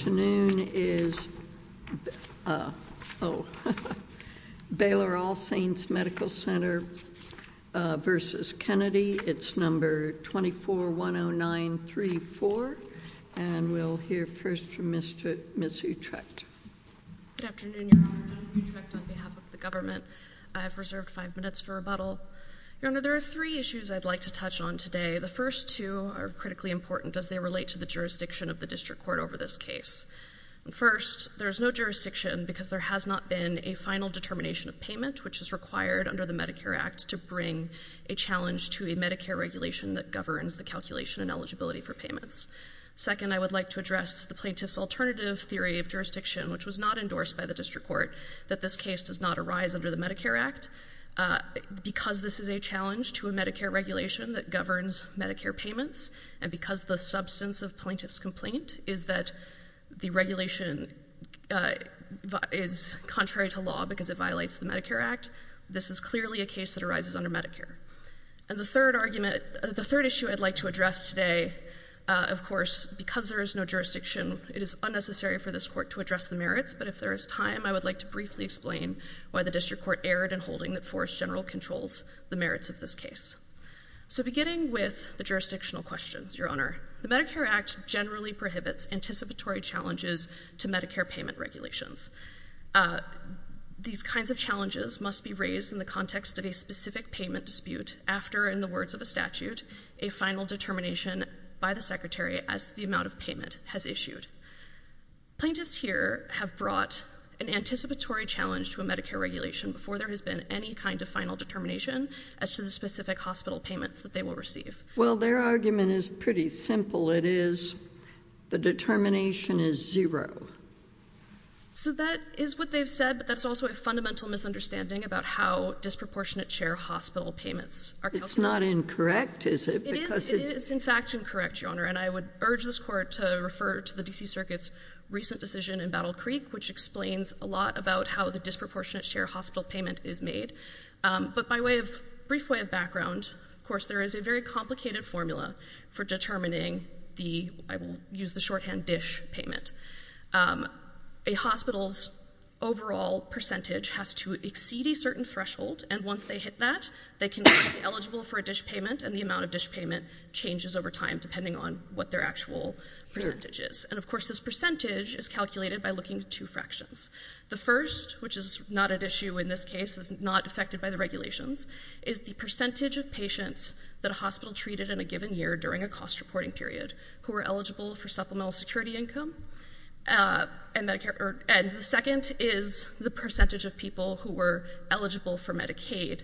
It's number 2410934. And we'll hear first from Ms. Utrecht. Good afternoon, Your Honor. I'm Ms. Utrecht on behalf of the government. I have reserved five minutes for rebuttal. Your Honor, there are three issues I'd like to touch on today. The first two are critically important. As they relate to the jurisdiction of the District Court over this case. First, there is no jurisdiction because there has not been a final determination of payment which is required under the Medicare Act to bring a challenge to a Medicare regulation that governs the calculation and eligibility for payments. Second, I would like to address the plaintiff's alternative theory of jurisdiction, which was not endorsed by the District Court, that this case does not arise under the Medicare Act. Because this is a challenge to a Medicare regulation that governs Medicare payments and because the substance of plaintiff's complaint is that the regulation is contrary to law because it violates the Medicare Act, this is clearly a case that arises under Medicare. And the third argument, the third issue I'd like to address today, of course, because there is no jurisdiction, it is unnecessary for this Court to address the merits, but if there is time, I would like to briefly explain why the District Court erred in holding that Forest General controls the merits of this case. So beginning with the jurisdictional questions, Your Honor, the Medicare Act generally prohibits anticipatory challenges to Medicare payment regulations. These kinds of challenges must be raised in the context of a specific payment dispute after, in the words of a statute, a final determination by the Secretary as to the amount of payment has issued. Plaintiffs here have brought an anticipatory challenge to a Medicare regulation before there has been any kind of final determination as to the specific hospital payments that they will receive. Well, their argument is pretty simple. It is the determination is zero. So that is what they've said, but that's also a fundamental misunderstanding about how disproportionate share hospital payments are calculated. It's not incorrect, is it? It is, it is, in fact, incorrect, Your Honor. And I would urge this Court to refer to the D.C. Circuit's recent decision in Battle Creek, which explains a lot about how the disproportionate share hospital payment is made. But by way of brief way of background, of course, there is a very complicated formula for determining the, I will use the shorthand, dish payment. A hospital's overall percentage has to exceed a certain threshold, and once they hit that, they can be eligible for a dish payment, and the amount of dish payment changes over time depending on what their actual percentage is. And, of course, this percentage is calculated by looking at two fractions. The first, which is not at issue in this case, is not affected by the regulations, is the percentage of patients that a hospital treated in a given year during a cost-reporting period who were eligible for supplemental security income. And the second is the percentage of people who were eligible for Medicaid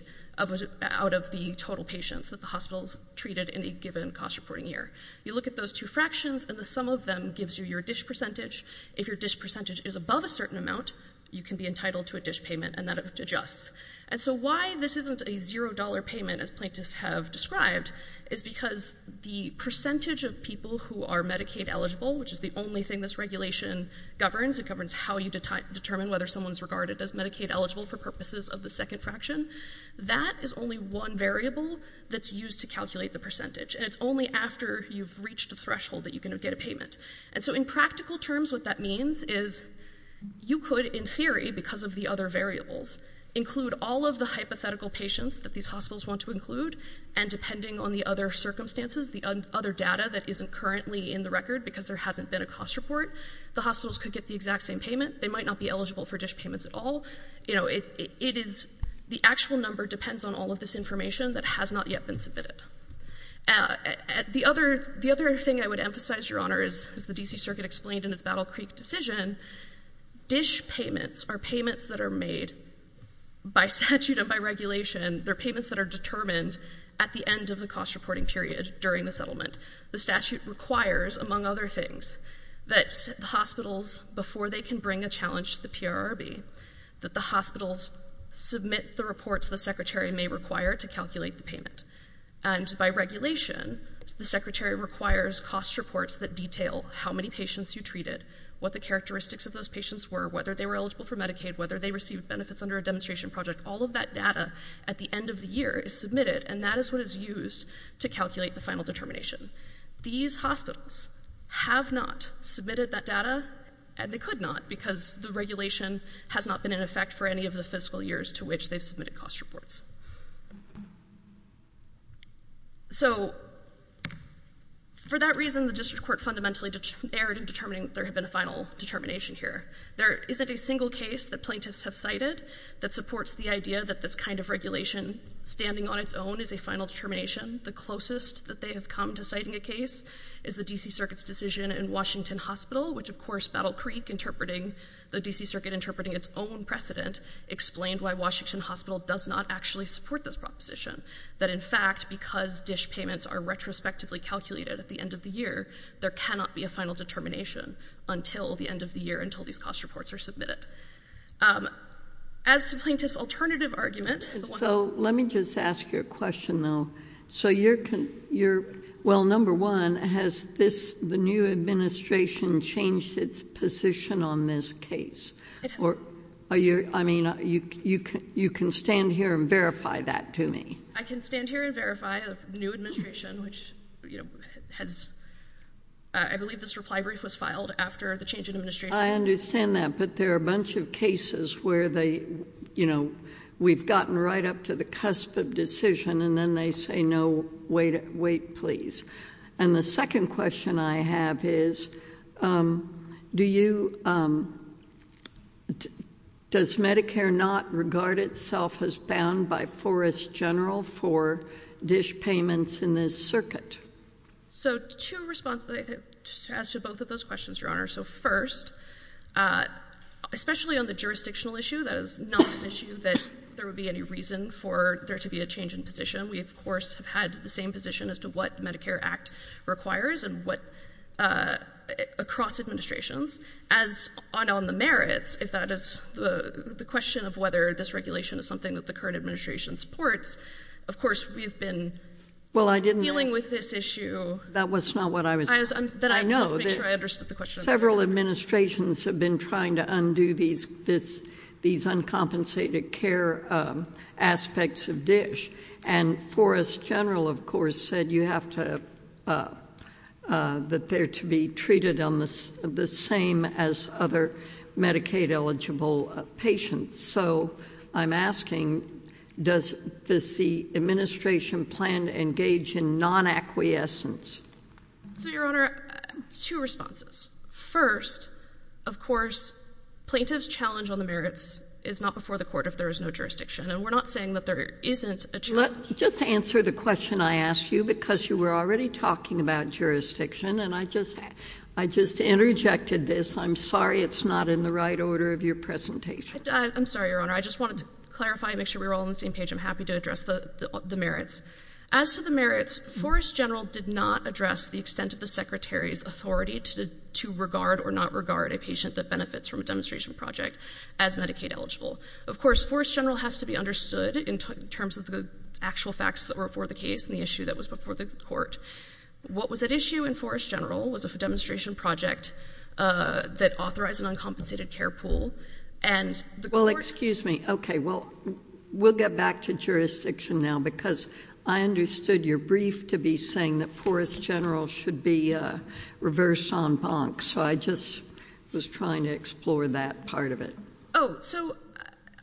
out of the total patients that the hospitals treated in a given cost-reporting year. You look at those two fractions, and the sum of them gives you your dish percentage. If your dish percentage is above a certain amount, you can be entitled to a dish payment, and that adjusts. And so why this isn't a zero-dollar payment, as plaintiffs have described, is because the percentage of people who are Medicaid-eligible, which is the only thing this regulation governs, it governs how you determine whether someone's regarded as Medicaid-eligible for purposes of the second fraction, that is only one variable that's used to calculate the percentage, and it's only after you've reached a threshold that you can get a payment. And so in practical terms, what that means is you could, in theory, because of the other variables, include all of the hypothetical patients that these hospitals want to include, and depending on the other circumstances, the other data that isn't currently in the record because there hasn't been a cost report, the hospitals could get the exact same payment. They might not be eligible for dish payments at all. The actual number depends on all of this information that has not yet been submitted. The other thing I would emphasize, Your Honor, as the D.C. Circuit explained in its Battle Creek decision, dish payments are payments that are made by statute and by regulation. They're payments that are determined at the end of the cost-reporting period during the settlement. The statute requires, among other things, that hospitals, before they can bring a challenge to the PRRB, that the hospitals submit the reports the secretary may require to calculate the payment. And by regulation, the secretary requires cost reports that detail how many patients you treated, what the characteristics of those patients were, whether they were eligible for Medicaid, whether they received benefits under a demonstration project. All of that data, at the end of the year, is submitted, and that is what is used to calculate the final determination. These hospitals have not submitted that data, and they could not, because the regulation has not been in effect for any of the fiscal years to which they've submitted cost reports. So, for that reason, the district court fundamentally erred in determining that there had been a final determination here. There isn't a single case that plaintiffs have cited that supports the idea that this kind of regulation, standing on its own, is a final determination. The closest that they have come to citing a case is the D.C. Circuit's decision in Washington Hospital, which, of course, Battle Creek, the D.C. Circuit interpreting its own precedent, explained why Washington Hospital does not actually support this proposition, that, in fact, because dish payments are retrospectively calculated at the end of the year, there cannot be a final determination until the end of the year, until these cost reports are submitted. As to plaintiff's alternative argument... So, let me just ask you a question, though. So, you're... well, number one, has the new administration changed its position on this case? It has. Are you... I mean, you can stand here and verify that to me. I can stand here and verify the new administration, which has... I believe this reply brief was filed after the change in administration. I understand that, but there are a bunch of cases where they, you know, we've gotten right up to the cusp of decision, and then they say, no, wait, please. And the second question I have is, do you... does Medicare not regard itself as bound by Forest General for dish payments in this circuit? So, to respond... to answer both of those questions, Your Honor. So, first, especially on the jurisdictional issue, that is not an issue that there would be any reason for there to be a change in position. We, of course, have had the same position as to what Medicare Act requires and what... across administrations. As on the merits, if that is the question of whether this regulation is something that the current administration supports, of course, we've been... Well, I didn't...... dealing with this issue... That was not what I was...... that I wanted to make sure I understood the question. I know that several administrations have been trying to undo these uncompensated care aspects of dish. And Forest General, of course, said you have to... that they're to be treated on the same as other Medicaid-eligible patients. So, I'm asking, does the administration plan to engage in non-acquiescence? So, Your Honor, two responses. First, of course, plaintiff's challenge on the merits is not before the court if there is no jurisdiction. And we're not saying that there isn't a... Let... just answer the question I asked you, because you were already talking about jurisdiction. And I just... I just interjected this. I'm sorry it's not in the right order of your presentation. I'm sorry, Your Honor. I just wanted to clarify and make sure we were all on the same page. I'm happy to address the merits. As to the merits, Forest General did not address the extent of the Secretary's authority to regard or not regard a patient that benefits from a demonstration project as Medicaid-eligible. Of course, Forest General has to be understood in terms of the actual facts that were before the case and the issue that was before the court. What was at issue in Forest General was a demonstration project that authorized an uncompensated care pool. And the court... Well, excuse me. Okay. Well, we'll get back to jurisdiction now, because I understood your brief to be saying that Forest General should be reversed en banc. So I just was trying to explore that part of it. Oh. So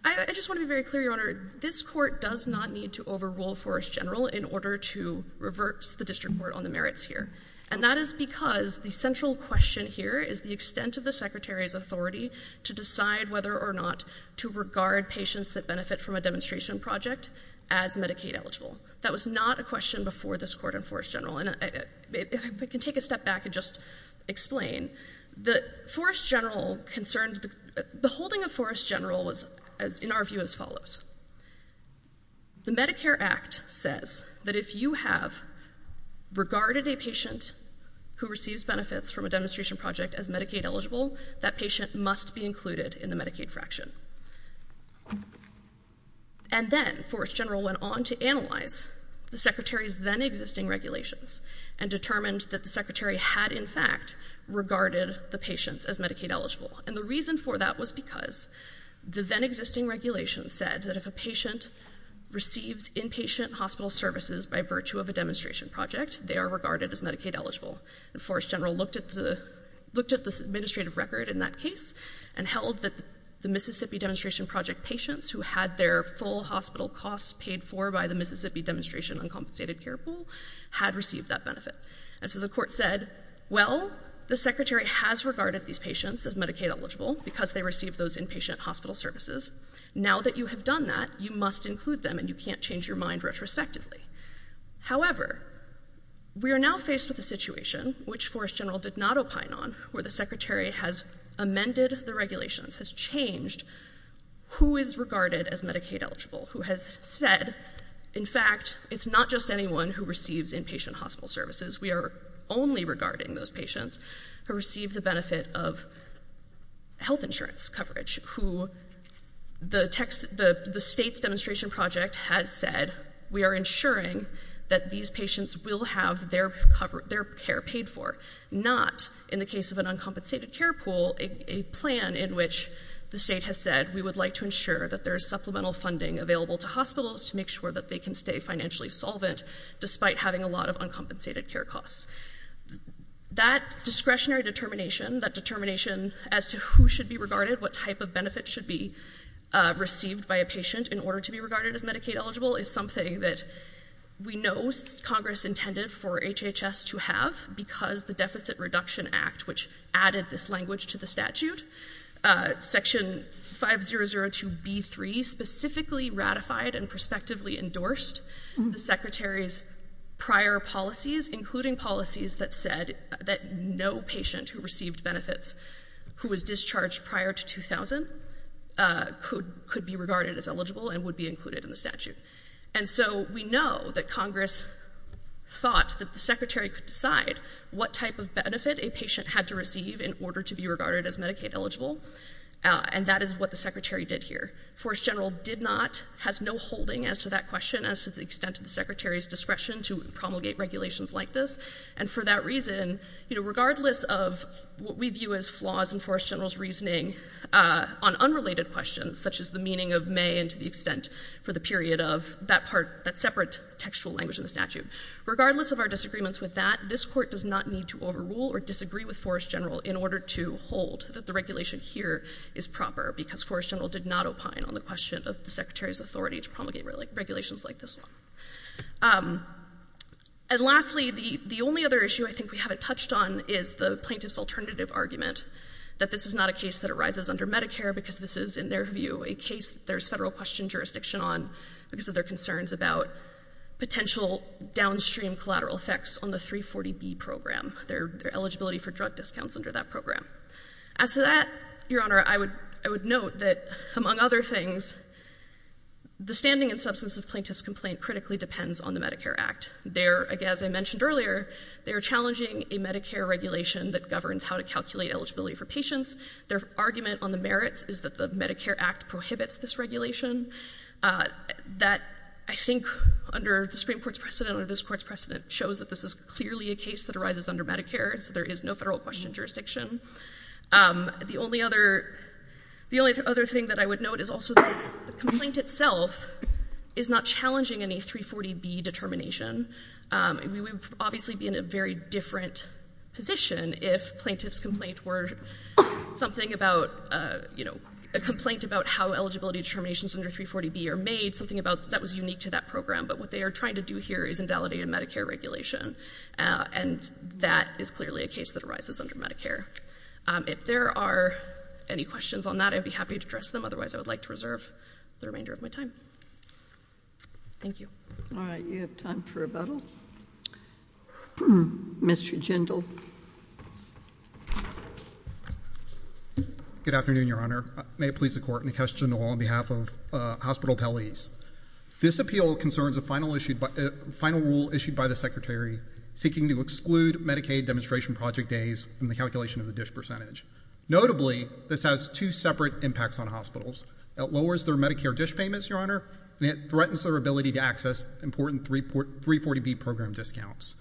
I just want to be very clear, Your Honor. This court does not need to overrule Forest General in order to reverse the district court on the merits here. And that is because the central question here is the extent of the Secretary's authority to decide whether or not to regard patients that benefit from a demonstration project as Medicaid-eligible. That was not a question before this court in Forest General. And if I can take a step back and just explain. The Forest General concerned... The holding of Forest General was, in our view, as follows. The Medicare Act says that if you have regarded a patient who receives benefits from a demonstration project as Medicaid-eligible, that patient must be included in the Medicaid fraction. And then Forest General went on to analyze the Secretary's then-existing regulations and determined that the Secretary had, in fact, regarded the patients as Medicaid-eligible. And the reason for that was because the then-existing regulations said that if a patient receives inpatient hospital services by virtue of a demonstration project, they are regarded as Medicaid-eligible. And Forest General looked at the administrative record in that case and held that the Mississippi Demonstration Project patients who had their full hospital costs paid for by the Mississippi Demonstration Uncompensated Care Pool had received that benefit. And so the court said, well, the Secretary has regarded these patients as Medicaid-eligible because they received those inpatient hospital services. Now that you have done that, you must include them and you can't change your mind retrospectively. However, we are now faced with a situation, which Forest General did not opine on, where the Secretary has amended the regulations, has changed who is regarded as Medicaid-eligible, who has said, in fact, it's not just anyone who receives inpatient hospital services. We are only regarding those patients who receive the benefit of health insurance coverage, who the state's demonstration project has said we are ensuring that these patients will have their care paid for, not, in the case of an uncompensated care pool, a plan in which the state has said we would like to ensure that there is supplemental funding available to hospitals to make sure that they can stay financially solvent despite having a lot of uncompensated care costs. That discretionary determination, that determination as to who should be regarded, what type of benefit should be received by a patient in order to be regarded as Medicaid-eligible, is something that we know Congress intended for HHS to have because the Deficit Reduction Act, which added this language to the statute, Section 5002B3 specifically ratified and prospectively endorsed the Secretary's prior policies, including policies that said that no patient who received benefits who was discharged prior to 2000 could be regarded as eligible and would be included in the statute. And so we know that Congress thought that the Secretary could decide what type of benefit a patient had to receive in order to be regarded as Medicaid-eligible, and that is what the Secretary did here. The Forest General did not, has no holding as to that question, as to the extent of the Secretary's discretion to promulgate regulations like this, and for that reason, regardless of what we view as flaws in Forest General's reasoning on unrelated questions, such as the meaning of may and to the extent for the period of that part, that separate textual language in the statute, regardless of our disagreements with that, this Court does not need to overrule or disagree with Forest General in order to hold that the regulation here is proper because Forest General did not opine on the question of the Secretary's authority to promulgate regulations like this one. And lastly, the only other issue I think we haven't touched on is the plaintiff's alternative argument that this is not a case that arises under Medicare because this is, in their view, a case there's Federal question jurisdiction on because of their concerns about potential downstream collateral effects on the 340B program, their eligibility for drug discounts under that program. As to that, Your Honor, I would note that, among other things, the standing and substance of plaintiff's complaint critically depends on the Medicare Act. There, as I mentioned earlier, they are challenging a Medicare regulation that governs how to calculate eligibility for patients. Their argument on the merits is that the Medicare Act prohibits this regulation. That, I think, under the Supreme Court's precedent or this Court's precedent, shows that this is clearly a case that arises under Medicare, so there is no Federal question jurisdiction. The only other thing that I would note is also that the complaint itself is not challenging any 340B determination. We would obviously be in a very different position if plaintiff's complaint were something about, you know, a complaint about how eligibility determinations under 340B are made, something that was unique to that program. But what they are trying to do here is invalidate a Medicare regulation, and that is clearly a case that arises under Medicare. If there are any questions on that, I would be happy to address them. Otherwise, I would like to reserve the remainder of my time. Thank you. All right, you have time for rebuttal. Mr. Jindal. Good afternoon, Your Honor. May it please the Court, and a question on behalf of Hospital Appellees. This appeal concerns a final rule issued by the Secretary seeking to exclude Medicaid demonstration project days from the calculation of the dish percentage. Notably, this has two separate impacts on hospitals. It lowers their Medicare dish payments, Your Honor, and it threatens their ability to access important 340B program discounts.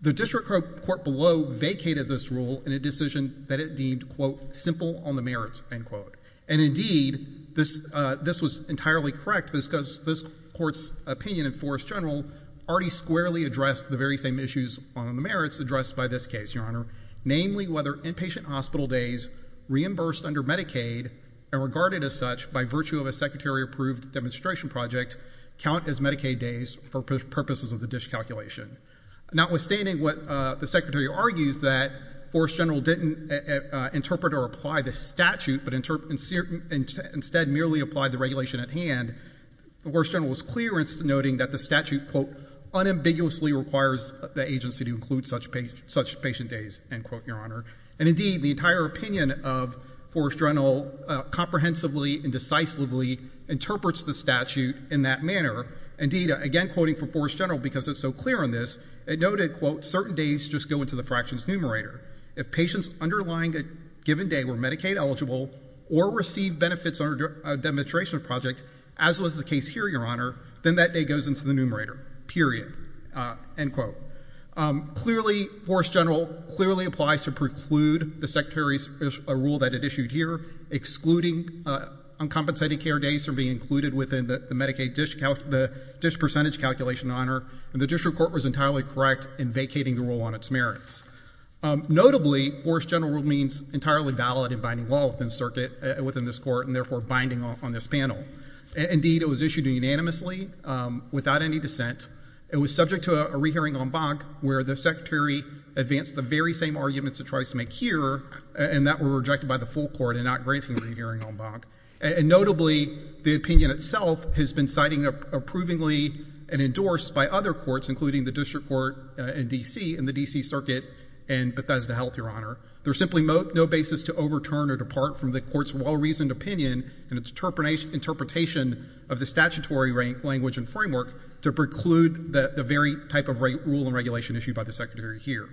The District Court below vacated this rule in a decision that it deemed, quote, simple on the merits, end quote. And indeed, this was entirely correct, because this Court's opinion in force general already squarely addressed the very same issues on the merits addressed by this case, Your Honor, namely whether inpatient hospital days reimbursed under Medicaid and regarded as such by virtue of a Secretary-approved demonstration project count as Medicaid days for purposes of the dish calculation. Notwithstanding what the Secretary argues, that force general didn't interpret or apply the statute, but instead merely applied the regulation at hand, the force general was clear in noting that the statute, quote, unambiguously requires the agency to include such patient days, end quote, Your Honor. And indeed, the entire opinion of force general comprehensively and decisively interprets the statute in that manner. Indeed, again quoting from force general, because it's so clear on this, it noted, quote, certain days just go into the fractions numerator. If patients underlying a given day were Medicaid eligible or received benefits under a demonstration project, as was the case here, Your Honor, then that day goes into the numerator, period, end quote. Clearly, force general clearly applies to preclude the Secretary's rule that it issued here, excluding uncompensated care days from being included within the Medicaid dish percentage calculation, Your Honor, and the district court was entirely correct in vacating the rule on its merits. Notably, force general rule means entirely valid in binding law within the circuit, within this court, and therefore binding on this panel. Indeed, it was issued unanimously without any dissent. It was subject to a rehearing en banc where the Secretary advanced the very same arguments it tries to make here and that were rejected by the full court and not granting a rehearing en banc. And notably, the opinion itself has been cited approvingly and endorsed by other courts, including the district court in D.C. and the D.C. circuit and Bethesda Health, Your Honor. There's simply no basis to overturn or depart from the court's well-reasoned opinion and its interpretation of the statutory language and framework to preclude the very type of rule and regulation issued by the Secretary here.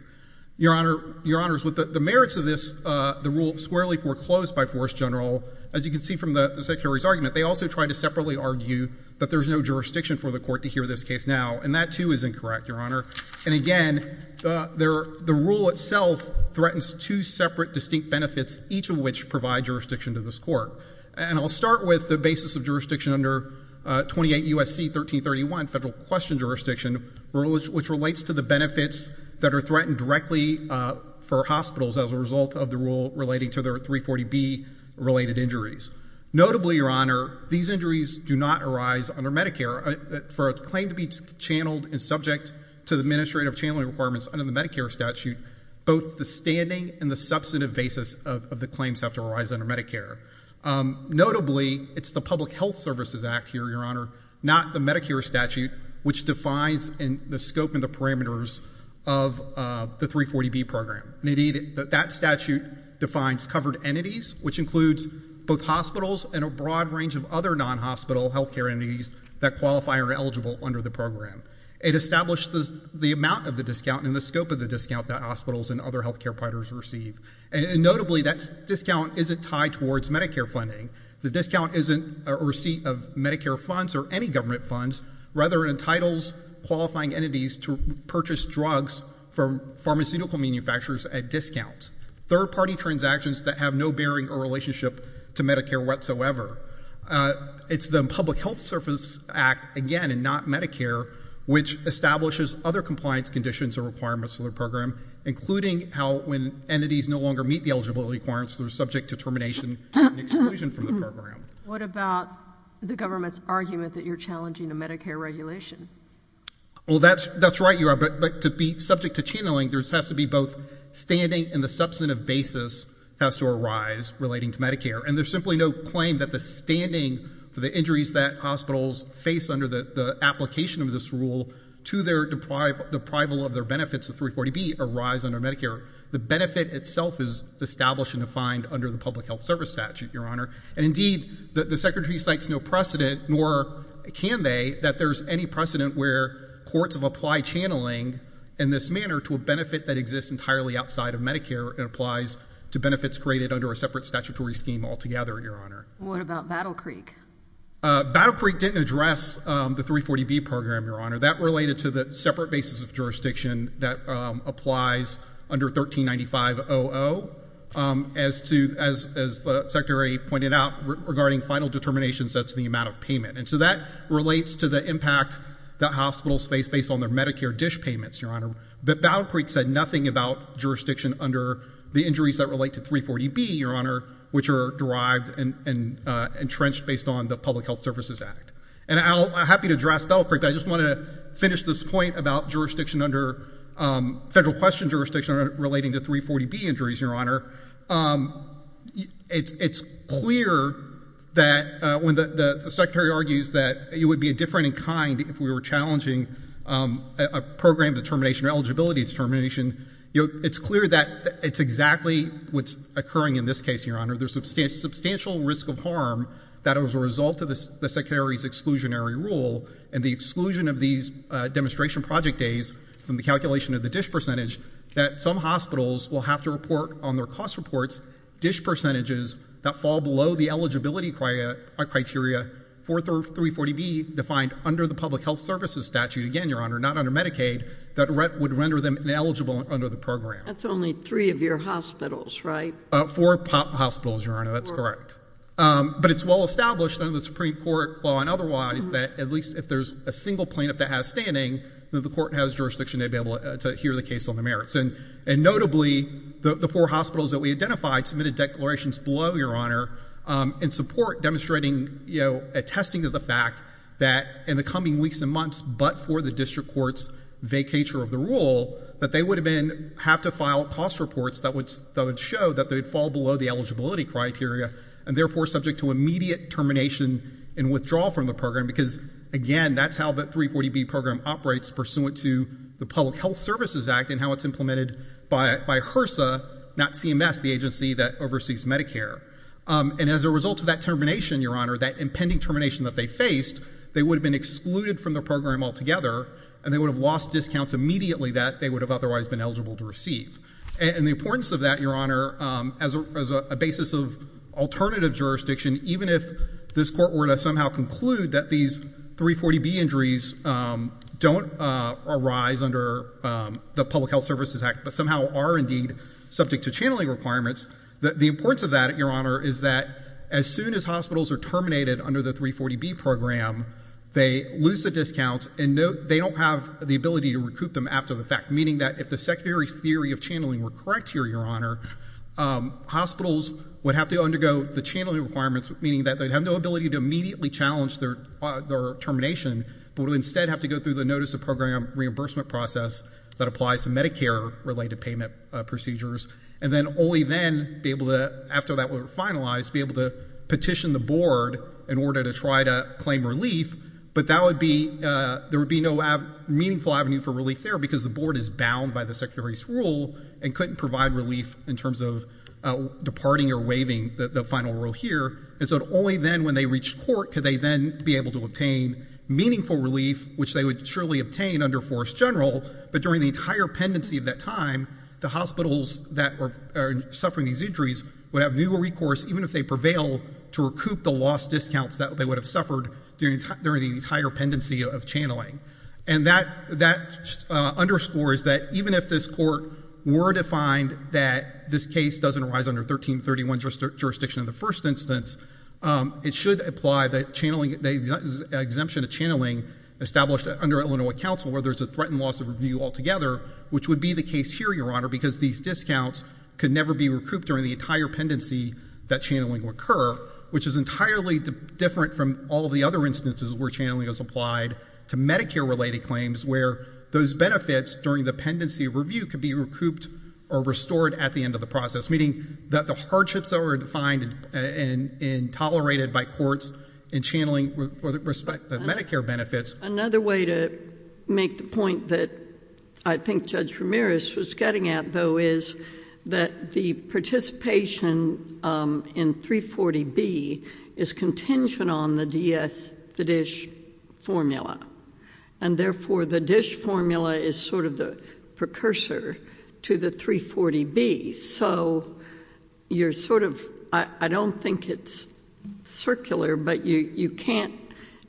Your Honors, with the merits of this, the rule squarely foreclosed by force general, as you can see from the Secretary's argument, they also tried to separately argue that there's no jurisdiction for the court to hear this case now, and that, too, is incorrect, Your Honor. And again, the rule itself threatens two separate distinct benefits, each of which provide jurisdiction to this court. And I'll start with the basis of jurisdiction under 28 U.S.C. 1331, federal question jurisdiction, which relates to the benefits that are threatened directly for hospitals as a result of the rule relating to their 340B-related injuries. Notably, Your Honor, these injuries do not arise under Medicare. For a claim to be channeled and subject to the administrative channeling requirements under the Medicare statute, both the standing and the substantive basis of the claims have to arise under Medicare. Notably, it's the Public Health Services Act here, Your Honor, not the Medicare statute, which defines the scope and the parameters of the 340B program. Indeed, that statute defines covered entities, which includes both hospitals and a broad range of other non-hospital health care entities that qualify or are eligible under the program. It establishes the amount of the discount and the scope of the discount that hospitals and other health care providers receive. And notably, that discount isn't tied towards Medicare funding. The discount isn't a receipt of Medicare funds or any government funds, rather it entitles qualifying entities to purchase drugs from pharmaceutical manufacturers at discount, third-party transactions that have no bearing or relationship to Medicare whatsoever. It's the Public Health Services Act, again, and not Medicare, which establishes other compliance conditions or requirements for the program, including how when entities no longer meet the eligibility requirements, they're subject to termination and exclusion from the program. What about the government's argument that you're challenging the Medicare regulation? Well, that's right, Your Honor, but to be subject to channeling, there has to be both standing and the substantive basis has to arise relating to Medicare. And there's simply no claim that the standing for the injuries that hospitals face under the application of this rule to their deprival of their benefits of 340B arise under Medicare. The benefit itself is established and defined under the Public Health Service statute, Your Honor. And indeed, the Secretary cites no precedent, nor can they, that there's any precedent where courts have applied channeling in this manner to a benefit that exists entirely outside of Medicare and applies to benefits created under a separate statutory scheme altogether, Your Honor. What about Battle Creek? Battle Creek didn't address the 340B program, Your Honor. That related to the separate basis of jurisdiction that applies under 1395.00. As the Secretary pointed out, regarding final determinations, that's the amount of payment. And so that relates to the impact that hospitals face based on their Medicare dish payments, Your Honor. But Battle Creek said nothing about jurisdiction under the injuries that relate to 340B, Your Honor, which are derived and entrenched based on the Public Health Services Act. And I'm happy to address Battle Creek, but I just wanted to finish this point about jurisdiction under federal question jurisdiction relating to 340B injuries, Your Honor. It's clear that when the Secretary argues that it would be a different in kind if we were challenging a program determination or eligibility determination, it's clear that it's exactly what's occurring in this case, Your Honor. There's substantial risk of harm that as a result of the Secretary's exclusionary rule and the exclusion of these demonstration project days from the calculation of the dish percentage, that some hospitals will have to report on their cost reports dish percentages that fall below the eligibility criteria for 340B defined under the Public Health Services statute, again, Your Honor, not under Medicaid, that would render them ineligible under the program. That's only three of your hospitals, right? Four hospitals, Your Honor. That's correct. But it's well established under the Supreme Court law and otherwise that at least if there's a single plaintiff that has standing, that the court has jurisdiction to be able to hear the case on the merits. And notably, the four hospitals that we identified submitted declarations below, Your Honor, in support demonstrating, you know, attesting to the fact that in the coming weeks and months, but for the district court's vacature of the rule, that they would have been have to file cost reports that would show that they'd fall below the eligibility criteria and therefore subject to immediate termination and withdrawal from the program because, again, that's how the 340B program operates pursuant to the Public Health Services Act and how it's implemented by HRSA, not CMS, the agency that oversees Medicare. And as a result of that termination, Your Honor, that impending termination that they faced, they would have been excluded from the program altogether and they would have lost discounts immediately that they would have otherwise been eligible to receive. And the importance of that, Your Honor, as a basis of alternative jurisdiction, even if this court were to somehow conclude that these 340B injuries don't arise under the Public Health Services Act but somehow are indeed subject to channeling requirements, the importance of that, Your Honor, is that as soon as hospitals are terminated under the 340B program, they lose the discounts and they don't have the ability to recoup them after the fact, meaning that if the Secretary's theory of channeling were correct here, Your Honor, hospitals would have to undergo the channeling requirements, meaning that they'd have no ability to immediately challenge their termination but would instead have to go through the Notice of Program Reimbursement process that applies to Medicare-related payment procedures and then only then be able to, after that were finalized, be able to petition the Board in order to try to claim relief, but there would be no meaningful avenue for relief there because the Board is bound by the Secretary's rule and couldn't provide relief in terms of departing or waiving the final rule here. And so only then, when they reach court, could they then be able to obtain meaningful relief, which they would surely obtain under Forest General, but during the entire pendency of that time, the hospitals that are suffering these injuries would have no recourse, even if they prevailed, to recoup the lost discounts that they would have suffered during the entire pendency of channeling. And that underscores that even if this Court were to find that this case doesn't arise under 1331 jurisdiction of the first instance, it should apply the exemption to channeling established under Illinois counsel where there's a threat and loss of review altogether, which would be the case here, Your Honor, because these discounts could never be recouped during the entire pendency that channeling would occur, which is entirely different from all of the other instances where channeling is applied to Medicare-related claims where those benefits during the pendency review could be recouped or restored at the end of the process, meaning that the hardships that were defined and tolerated by courts in channeling Medicare benefits... Another way to make the point that I think Judge Ramirez was getting at, though, is that the participation in 340B is contingent on the DS-the-dish formula, and therefore the dish formula is sort of the precursor to the 340B. So you're sort of... I don't think it's circular, but you can't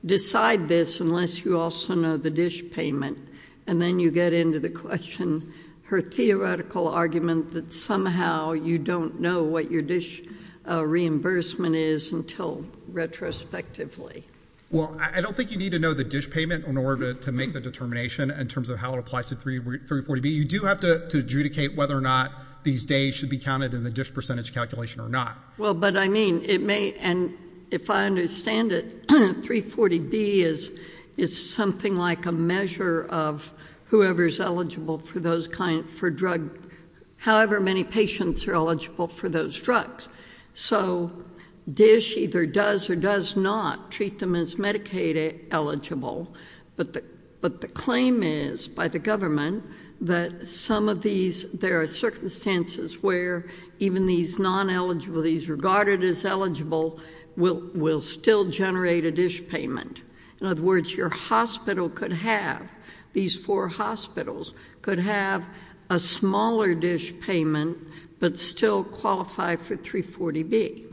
decide this unless you also know the dish payment. And then you get into the question, her theoretical argument, that somehow you don't know what your dish reimbursement is until retrospectively. Well, I don't think you need to know the dish payment in order to make the determination in terms of how it applies to 340B. You do have to adjudicate whether or not these days should be counted in the dish percentage calculation or not. Well, but I mean, it may... And if I understand it, 340B is something like a measure of whoever's eligible for drug... however many patients are eligible for those drugs. So DISH either does or does not treat them as Medicaid-eligible, but the claim is by the government that some of these... There are circumstances where even these non-eligible, these regarded as eligible, will still generate a dish payment. In other words, your hospital could have... These four hospitals could have a smaller dish payment but still qualify for 340B,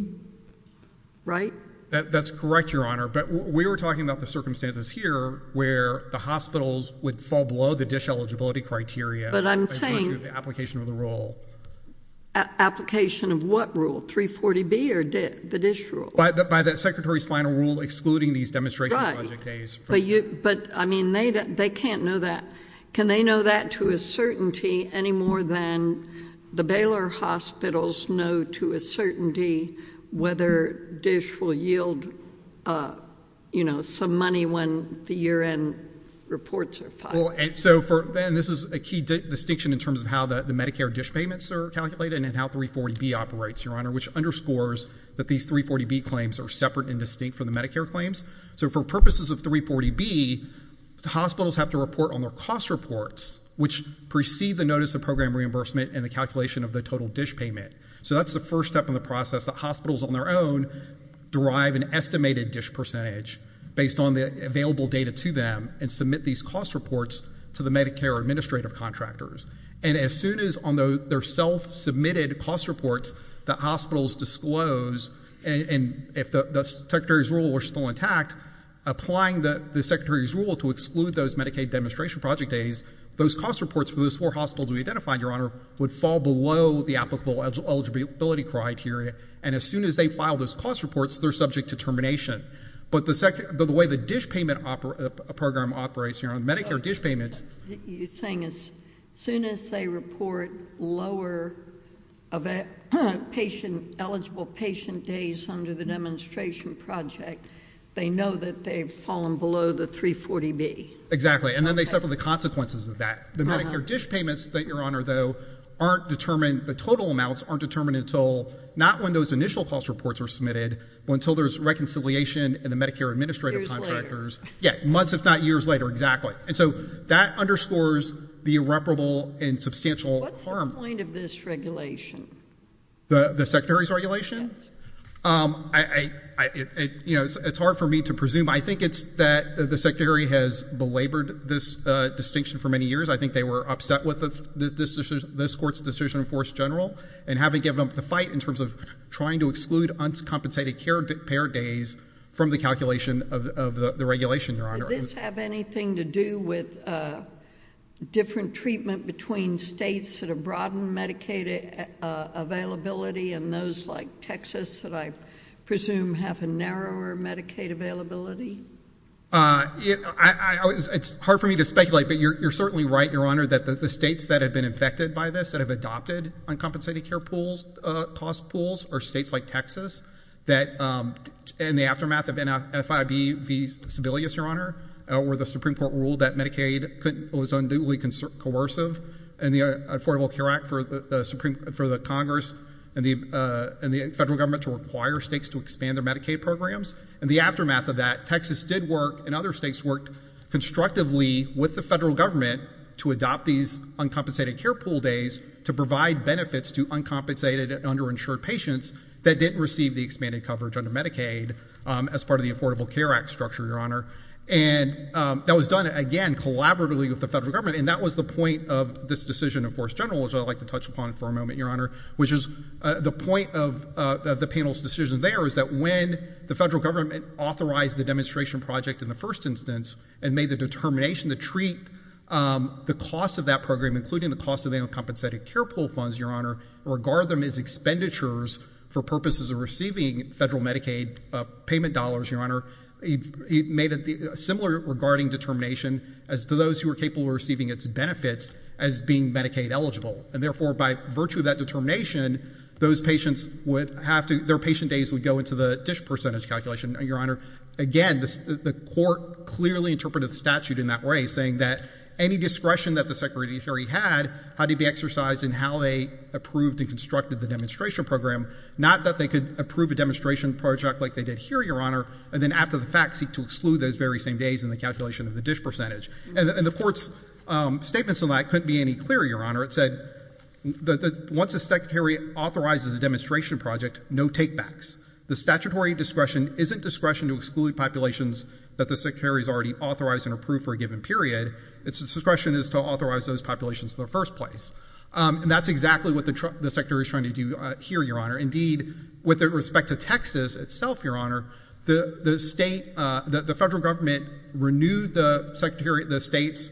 right? That's correct, Your Honor. But we were talking about the circumstances here where the hospitals would fall below the DISH eligibility criteria... But I'm saying... ...in terms of the application of the rule. Application of what rule, 340B or the DISH rule? By the secretary's final rule excluding these demonstration project days. But, I mean, they can't know that. Can they know that to a certainty any more than the Baylor hospitals know to a certainty whether DISH will yield, you know, some money when the year-end reports are filed? And this is a key distinction in terms of how the Medicare DISH payments are calculated and how 340B operates, Your Honor, which underscores that these 340B claims are separate and distinct from the Medicare claims. So for purposes of 340B, the hospitals have to report on their cost reports which precede the notice of program reimbursement and the calculation of the total DISH payment. So that's the first step in the process that hospitals on their own derive an estimated DISH percentage based on the available data to them and submit these cost reports to the Medicare administrative contractors. And as soon as on their self-submitted cost reports that hospitals disclose, and if the secretary's rule is still intact, applying the secretary's rule to exclude those Medicaid demonstration project days, those cost reports for those four hospitals we identified, Your Honor, would fall below the applicable eligibility criteria, and as soon as they file those cost reports, they're subject to termination. But the way the DISH payment program operates here on Medicare DISH payments... You're saying as soon as they report lower eligible patient days under the demonstration project, they know that they've fallen below the 340B. Exactly, and then they suffer the consequences of that. The Medicare DISH payments, Your Honor, though, the total amounts aren't determined until not when those initial cost reports are submitted, but until there's reconciliation in the Medicare administrative contractors. Yeah, months if not years later, exactly. And so that underscores the irreparable and substantial harm... What's the point of this regulation? The secretary's regulation? Yes. You know, it's hard for me to presume. I think it's that the secretary has belabored this distinction for many years. I think they were upset with this court's decision in force general and haven't given up the fight in terms of trying to exclude uncompensated care days from the calculation of the regulation, Your Honor. Did this have anything to do with different treatment between states that have broadened Medicaid availability and those like Texas that I presume have a narrower Medicaid availability? Uh, it's hard for me to speculate, but you're certainly right, Your Honor, that the states that have been infected by this, that have adopted uncompensated care pools, cost pools, are states like Texas, that in the aftermath of FIB v. Sebelius, Your Honor, where the Supreme Court ruled that Medicaid was unduly coercive, and the Affordable Care Act for the Congress and the federal government to require states to expand their Medicaid programs, in the aftermath of that, Texas did work and other states worked constructively with the federal government to adopt these uncompensated care pool days to provide benefits to uncompensated and underinsured patients that didn't receive the expanded coverage under Medicaid as part of the Affordable Care Act structure, Your Honor. And that was done, again, collaboratively with the federal government, and that was the point of this decision in force general, which I'd like to touch upon for a moment, Your Honor, which is the point of the panel's decision there is that when the federal government authorized the demonstration project in the first instance and made the determination to treat the cost of that program, including the cost of the uncompensated care pool funds, Your Honor, and regard them as expenditures for purposes of receiving federal Medicaid payment dollars, Your Honor, it made a similar regarding determination as to those who were capable of receiving its benefits as being Medicaid-eligible. And therefore, by virtue of that determination, those patients would have to... Their patient days would go into the dish percentage calculation. Your Honor, again, the court clearly interpreted the statute in that way, saying that any discretion that the secretary had had to be exercised in how they approved and constructed the demonstration program, not that they could approve a demonstration project like they did here, Your Honor, and then after the fact seek to exclude those very same days in the calculation of the dish percentage. And the court's statements on that couldn't be any clearer, Your Honor. It said that once a secretary authorizes a demonstration project, no take-backs. The statutory discretion isn't discretion to exclude populations that the secretary has already authorized and approved for a given period. Its discretion is to authorize those populations in the first place. And that's exactly what the secretary is trying to do here, Your Honor. Indeed, with respect to Texas itself, Your Honor, the state... renewed the state's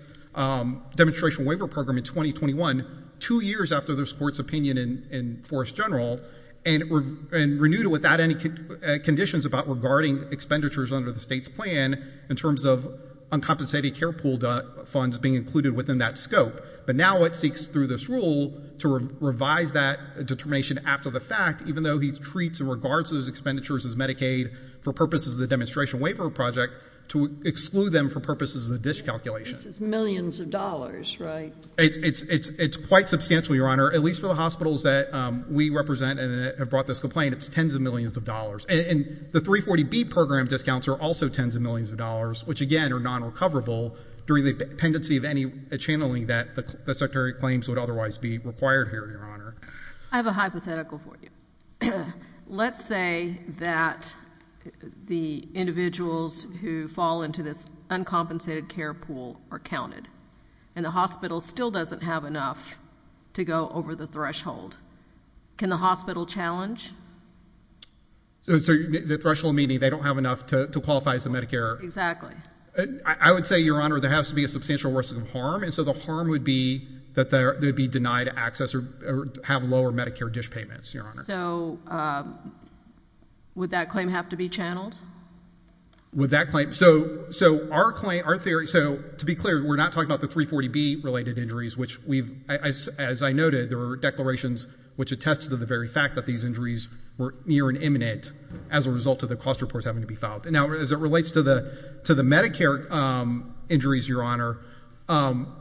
demonstration waiver program in 2021, two years after this court's opinion in Forest General, and renewed it without any conditions about regarding expenditures under the state's plan in terms of uncompensated care pool funds being included within that scope. But now it seeks, through this rule, to revise that determination after the fact, even though he treats and regards those expenditures as Medicaid for purposes of the demonstration waiver project, to exclude them for purposes of the dish calculation. This is millions of dollars, right? It's quite substantial, Your Honor. At least for the hospitals that we represent and have brought this complaint, it's tens of millions of dollars. And the 340B program discounts are also tens of millions of dollars, which again are non-recoverable during the pendency of any channeling that the secretary claims would otherwise be required here, Your Honor. I have a hypothetical for you. Let's say that the individuals who fall into this uncompensated care pool are counted. And the hospital still doesn't have enough to go over the threshold. Can the hospital challenge? So the threshold meaning they don't have enough to qualify as a Medicare? Exactly. I would say, Your Honor, there has to be a substantial risk of harm, and so the harm would be that they would be denied access or have lower Medicare dish payments, Your Honor. So would that claim have to be channeled? Would that claim? So our theory, to be clear, we're not talking about the 340B related injuries, which as I noted, there were declarations which attested to the very fact that these injuries were near and imminent as a result of the cost reports having to be filed. Now as it relates to the Medicare injuries, Your Honor, our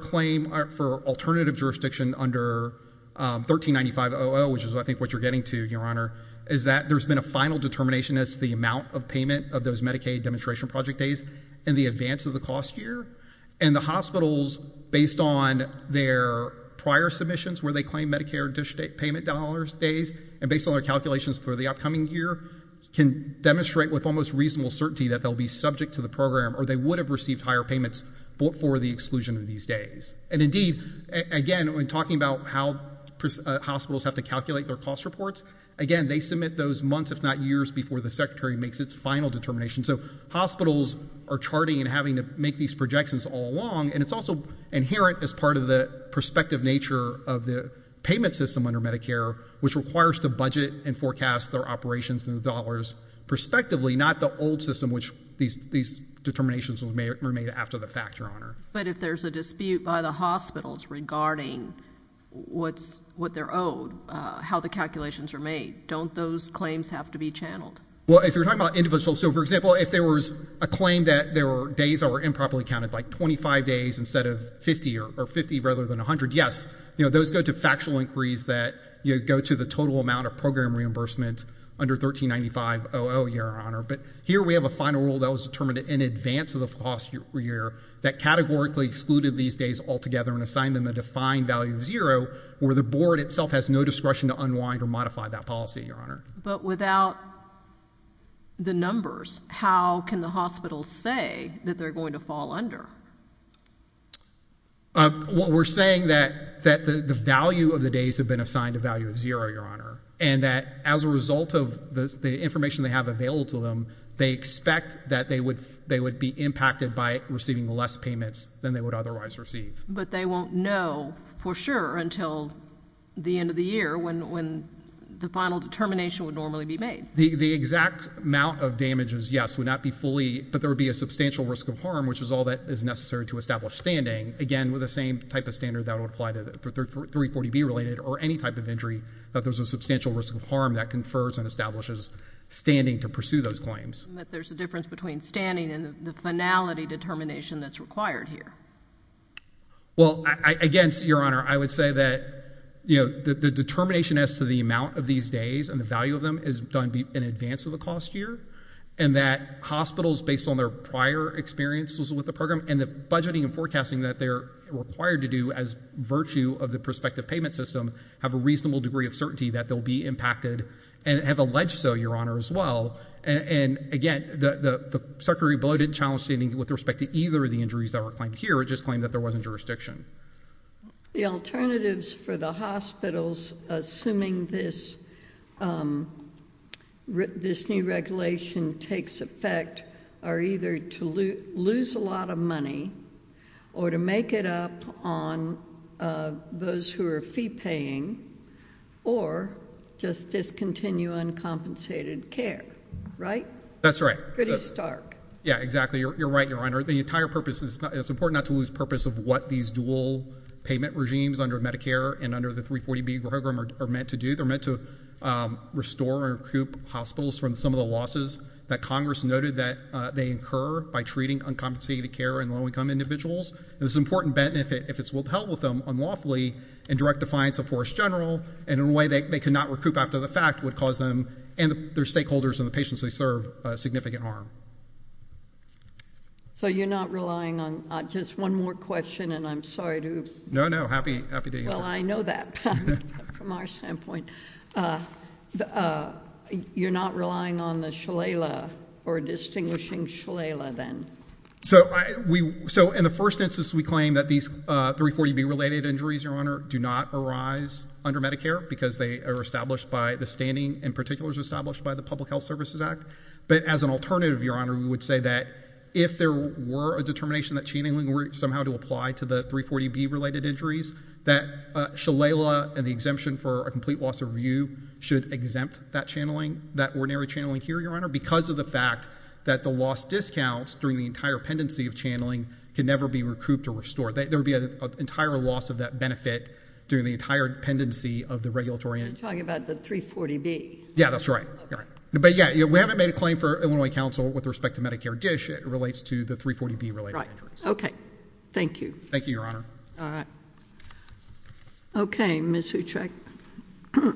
claim for alternative jurisdiction under 1395.00, which is I think what you're getting to, Your Honor, is that there's been a final determination as to the amount of payment of those Medicaid demonstration project days in the advance of the cost year. And the hospitals, based on their prior submissions where they claim Medicare dish payment days, and based on their calculations for the upcoming year, can demonstrate with almost reasonable certainty that they'll be subject to the program or they would have received higher payments for the exclusion of these days. And indeed, again, when talking about how hospitals have to calculate their cost reports, again, they submit those months if not years before the Secretary makes its final determination. So hospitals are charting and having to make these projections all along, and it's also inherent as part of the prospective nature of the payment system under Medicare which requires to budget and forecast their operations and dollars prospectively, not the old system which these determinations were made after the fact, Your Honor. But if there's a dispute by the hospitals regarding what they're owed, how the calculations are made, don't those claims have to be channeled? Well, if you're talking about individuals, so for example, if there was a claim that there were days that were improperly counted, like 25 days instead of 50, or 50 rather than 100, yes, those go to factual inquiries that go to the total amount of program reimbursement under 1395-00, Your Honor. But here we have a final rule that was determined in advance of the cost year that categorically excluded these days altogether and assigned them a defined value of zero where the board itself has no discretion to unwind or modify that policy, Your Honor. But without the numbers, how can the hospitals say that they're going to fall under? We're saying that the value of the days have been assigned a value of zero, Your Honor, and that as a result of the information they have available to them, they expect that they would be impacted by receiving less payments than they would otherwise receive. But they won't know for sure until the end of the year when the final determination would normally be made. The exact amount of damages, yes, would not be fully, but there would be a substantial risk of harm, which is all that is necessary to establish standing, again, with the same type of standard that would apply to 340B-related or any type of injury that there's a substantial risk of harm that confers and establishes standing to pursue those claims. But there's a difference between standing and the finality determination that's required here. Well, again, Your Honor, I would say that, you know, the determination as to the amount of these days and the value of them is done in advance of the cost year, and that hospitals, based on their prior experience with the program and the budgeting and forecasting that they're required to do as virtue of the prospective payment system, have a reasonable degree of certainty that they'll be impacted and have alleged so, Your Honor, as well. And, again, the Secretary below didn't challenge standing with respect to either of the injuries that were claimed here. It just claimed that there wasn't jurisdiction. The alternatives for the hospitals assuming this new regulation takes effect are either to lose a lot of money or to make it up on those who are prepaying or just discontinue uncompensated care, right? That's right. Yeah, exactly. You're right, Your Honor. The entire purpose is, it's important not to lose purpose of what these dual payment regimes under Medicare and under the 340B program are meant to do. They're meant to restore or recoup hospitals from some of the losses that Congress noted that they incur by treating uncompensated care in low-income individuals. And it's important, Ben, if it's possible, to help with them unlawfully in direct defiance of Forest General and in a way they cannot recoup after the fact would cause them and their stakeholders and the patients they serve significant harm. So, you're not relying on... Just one more question and I'm sorry to... No, no. Happy to answer. Well, I know that from our standpoint. You're not relying on the Shalala or distinguishing Shalala, then? So, in the first instance, we claim that these 340B related injuries, Your Honor, do not arise under Medicare because they are established by the standing and particulars established by the Public Health Services Act. But as an alternative, Your Honor, we would say that if there were a determination that channeling were somehow to apply to the 340B related injuries that Shalala and the exemption for a complete loss of view should exempt that channeling, that ordinary channeling here, Your Honor, because of the fact that the lost discounts during the entire pendency of channeling can never be recouped or restored. There would be an entire loss of that benefit during the entire pendency of the regulatory... You're talking about the 340B. Yeah, that's right. But yeah, we haven't made a claim for Illinois Council with respect to Medicare DISH. It relates to the 340B related injuries. Right. Okay. Thank you. Thank you, Your Honor. Okay, Ms. Huchek. Your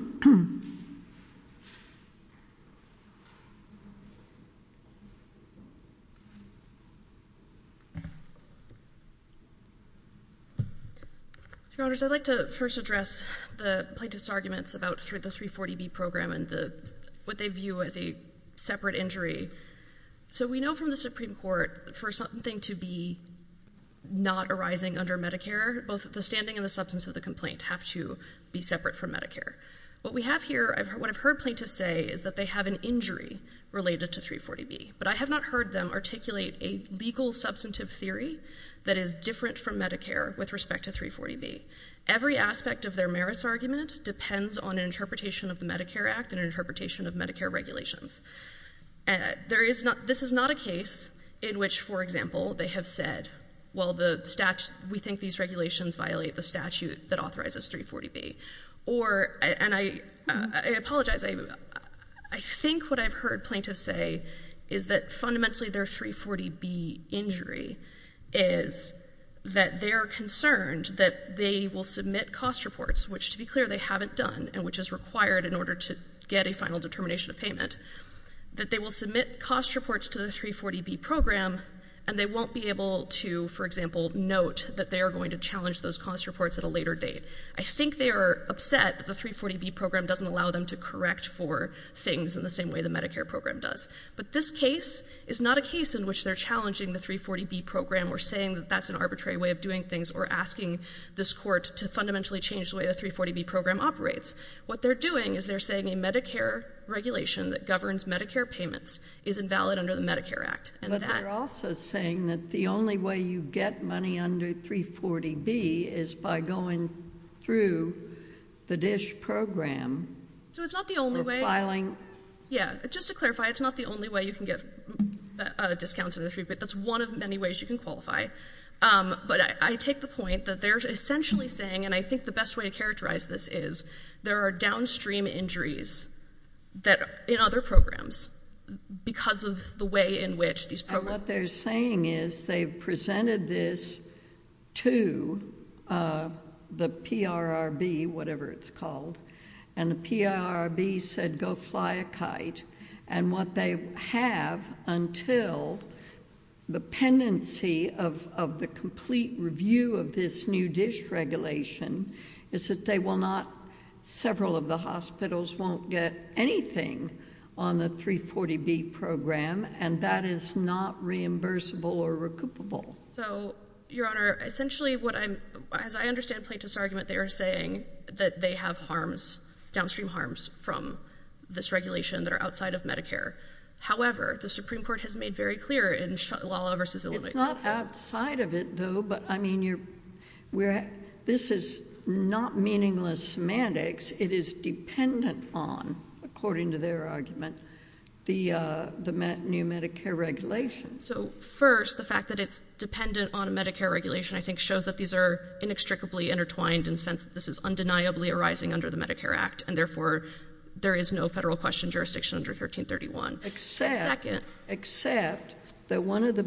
Honors, I'd like to first address the plaintiff's arguments about the 340B program and what they view as a separate injury. So we know from the Supreme Court for something to be not arising under Medicare, both the standing and the substance of the complaint have to be separate from Medicare. What we have here, what I've heard plaintiffs say is that they have an injury related to 340B. But I have not heard them articulate a legal claim or legal substantive theory that is different from Medicare with respect to 340B. Every aspect of their merits argument depends on an interpretation of the Medicare Act and an interpretation of Medicare regulations. This is not a case in which, for example, they have said, well, we think these regulations violate the statute that authorizes 340B. And I apologize. I think what I've heard plaintiffs say is that fundamentally their 340B injury is that they are concerned that they will submit cost reports, which, to be clear, they haven't done and which is required in order to get a final determination of payment, that they will submit cost reports to the 340B program and they won't be able to, for example, note that they are going to challenge those cost reports at a later date. I think they are upset that the 340B program doesn't allow them to correct for claims in the same way the Medicare program does. But this case is not a case in which they're challenging the 340B program or saying that that's an arbitrary way of doing things or asking this court to fundamentally change the way the 340B program operates. What they're doing is they're saying a Medicare regulation that governs Medicare payments is invalid under the Medicare Act. But they're also saying that the only way you get money under 340B is by going through the DSH program So it's not the only way Just to clarify, it's not the only way you can get a discount but that's one of many ways you can qualify. But I take the point that they're essentially saying and I think the best way to characterize this is there are downstream injuries in other programs because of the way in which these programs And what they're saying is they've presented this to the PRRB whatever it's called and the PRRB said go fly a kite and what they have until the pendency of the complete review of this new DSH regulation is that they will not several of the hospitals won't get anything on the 340B program and that is not reimbursable or recoupable. So your honor, essentially what I'm As I understand Plaintiff's argument, they are saying that they have harms downstream harms from this regulation that are outside of Medicare However, the Supreme Court has made very clear in Lala v. Illinois It's not outside of it though, but I mean you're this is not meaningless semantics it is dependent on according to their argument the new Medicare regulation So first, the fact that it's dependent on Medicare regulation I think shows that these are inextricably intertwined in the sense that this is undeniably arising under the Medicare Act and therefore there is no federal question jurisdiction under 1331 Except that one of the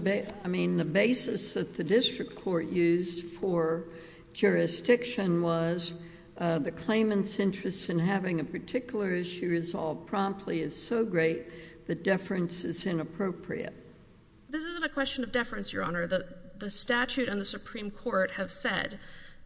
basis that the district court used for jurisdiction was the claimant's interest in having a particular issue resolved promptly is so great that deference is inappropriate. This isn't a question of deference, Your Honor. The statute and the Supreme Court have said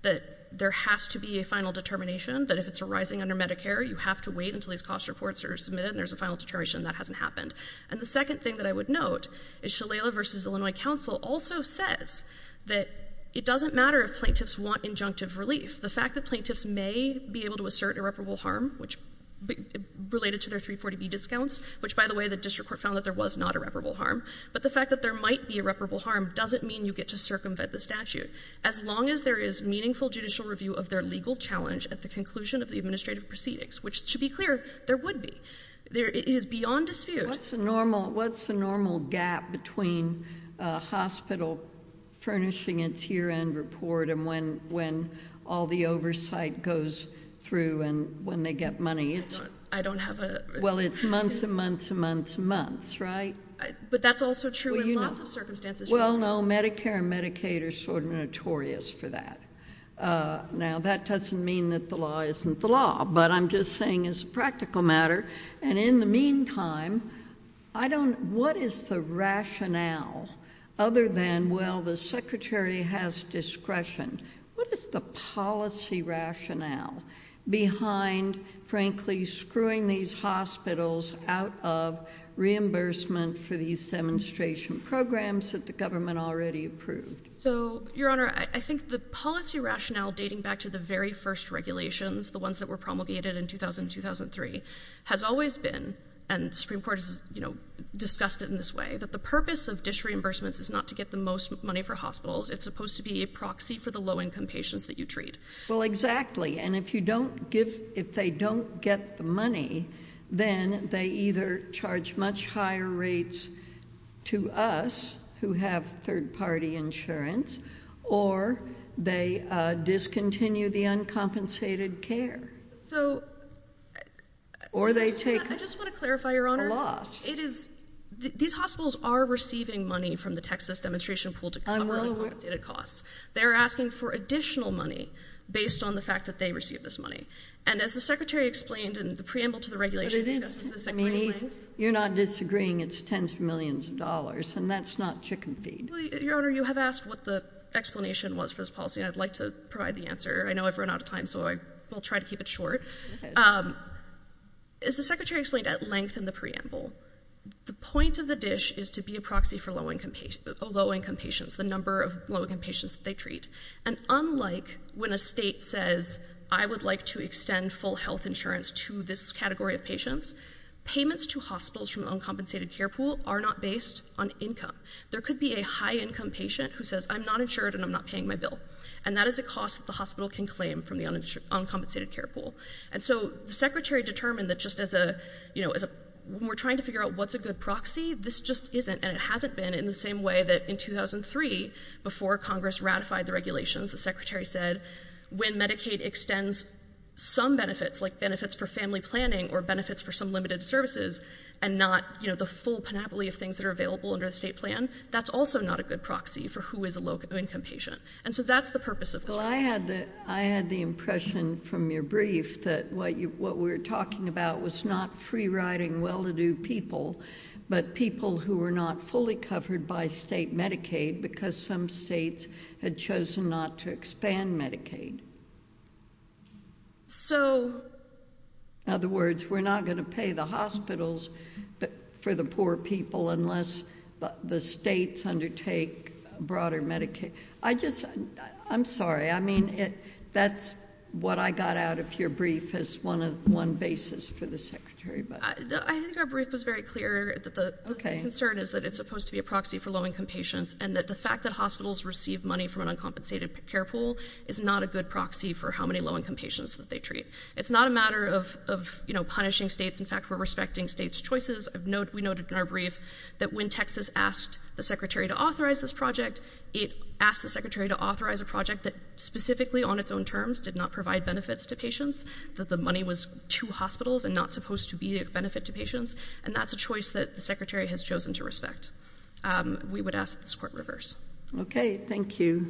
that there has to be a final determination that if it's arising under Medicare you have to wait until these cost reports are submitted and there's a final determination that hasn't happened And the second thing that I would note is Shalala v. Illinois counsel also says that it doesn't matter if plaintiffs want injunctive relief the fact that plaintiffs may be able to assert irreparable harm, which related to their 340B discounts which by the way the district court found that there was not irreparable harm, but the fact that there might be irreparable harm doesn't mean you get to circumvent the statute. As long as there is meaningful judicial review of their legal challenge at the conclusion of the administrative proceedings which should be clear, there would be It is beyond dispute What's the normal gap between a hospital furnishing its year-end report and when all the oversight goes through and when they get money? Well it's months and months and months and months, right? But that's also true in lots of circumstances Well no, Medicare and Medicaid are sort of notorious for that Now that doesn't mean that the law isn't the law, but I'm just saying it's a practical matter and in the meantime what is the rationale other than well the secretary has discretion what is the policy rationale behind frankly screwing these hospitals out of reimbursement for these demonstration programs that the government already approved? Your honor, I think the policy rationale dating back to the very first regulations the ones that were promulgated in 2000 and 2003, has always been and the Supreme Court has discussed it in this way, that the purpose of dis-reimbursements is not to get the most money for hospitals, it's supposed to be a proxy for the low-income patients that you treat Well exactly, and if you don't give if they don't get the money then they either charge much higher rates to us, who have third party insurance or they discontinue the uncompensated care or they take I just want to clarify your honor these hospitals are receiving money from the Texas demonstration pool to cover uncompensated costs they're asking for additional money based on the fact that they received this money and as the secretary explained in the preamble to the regulations you're not disagreeing it's tens of millions of dollars and that's not chicken feed your honor, you have asked what the explanation was for this policy and I'd like to provide the answer I know I've run out of time so I will try to keep it short as the secretary explained at length in the preamble the point of the dish is to be a proxy for low-income patients the number of low-income patients that they treat and unlike when a state says I would like to extend full health insurance to this category of patients, payments to hospitals from the uncompensated care pool are not based on income. There could be a high income patient who says I'm not insured and I'm not paying my bill and that is a cost that the hospital can claim from the uncompensated care pool and so the secretary determined that just as a when we're trying to figure out what's a good proxy, this just isn't and it hasn't been in the same way that in 2003 before Congress ratified the regulations the secretary said when Medicaid extends some benefits like benefits for family planning or benefits for some limited services and not the full panoply of things that are available under the state plan, that's also not a good proxy for who is a low-income patient and so that's the purpose of this policy I had the impression from your brief that what we were talking about was not free-riding well-to-do people but people who were not fully covered by state Medicaid because some states had chosen not to expand Medicaid so in other words, we're not going to pay the hospitals for the poor people unless the states undertake broader Medicaid I'm sorry, I mean that's what I got out of your brief as one basis for the secretary but I think our brief was very clear that the concern is that it's supposed to be a proxy for low-income patients and that the fact that hospitals receive money from an uncompensated care pool is not a good proxy for how many low-income patients that they treat it's not a matter of punishing states, in fact, we're respecting states' choices, we noted in our brief that when Texas asked the secretary to authorize this project, it asked the secretary to authorize a project that specifically on its own terms did not provide benefits to patients, that the money was to hospitals and not supposed to be a benefit to patients, and that's a choice that the secretary has chosen to respect we would ask that this court reverse okay, thank you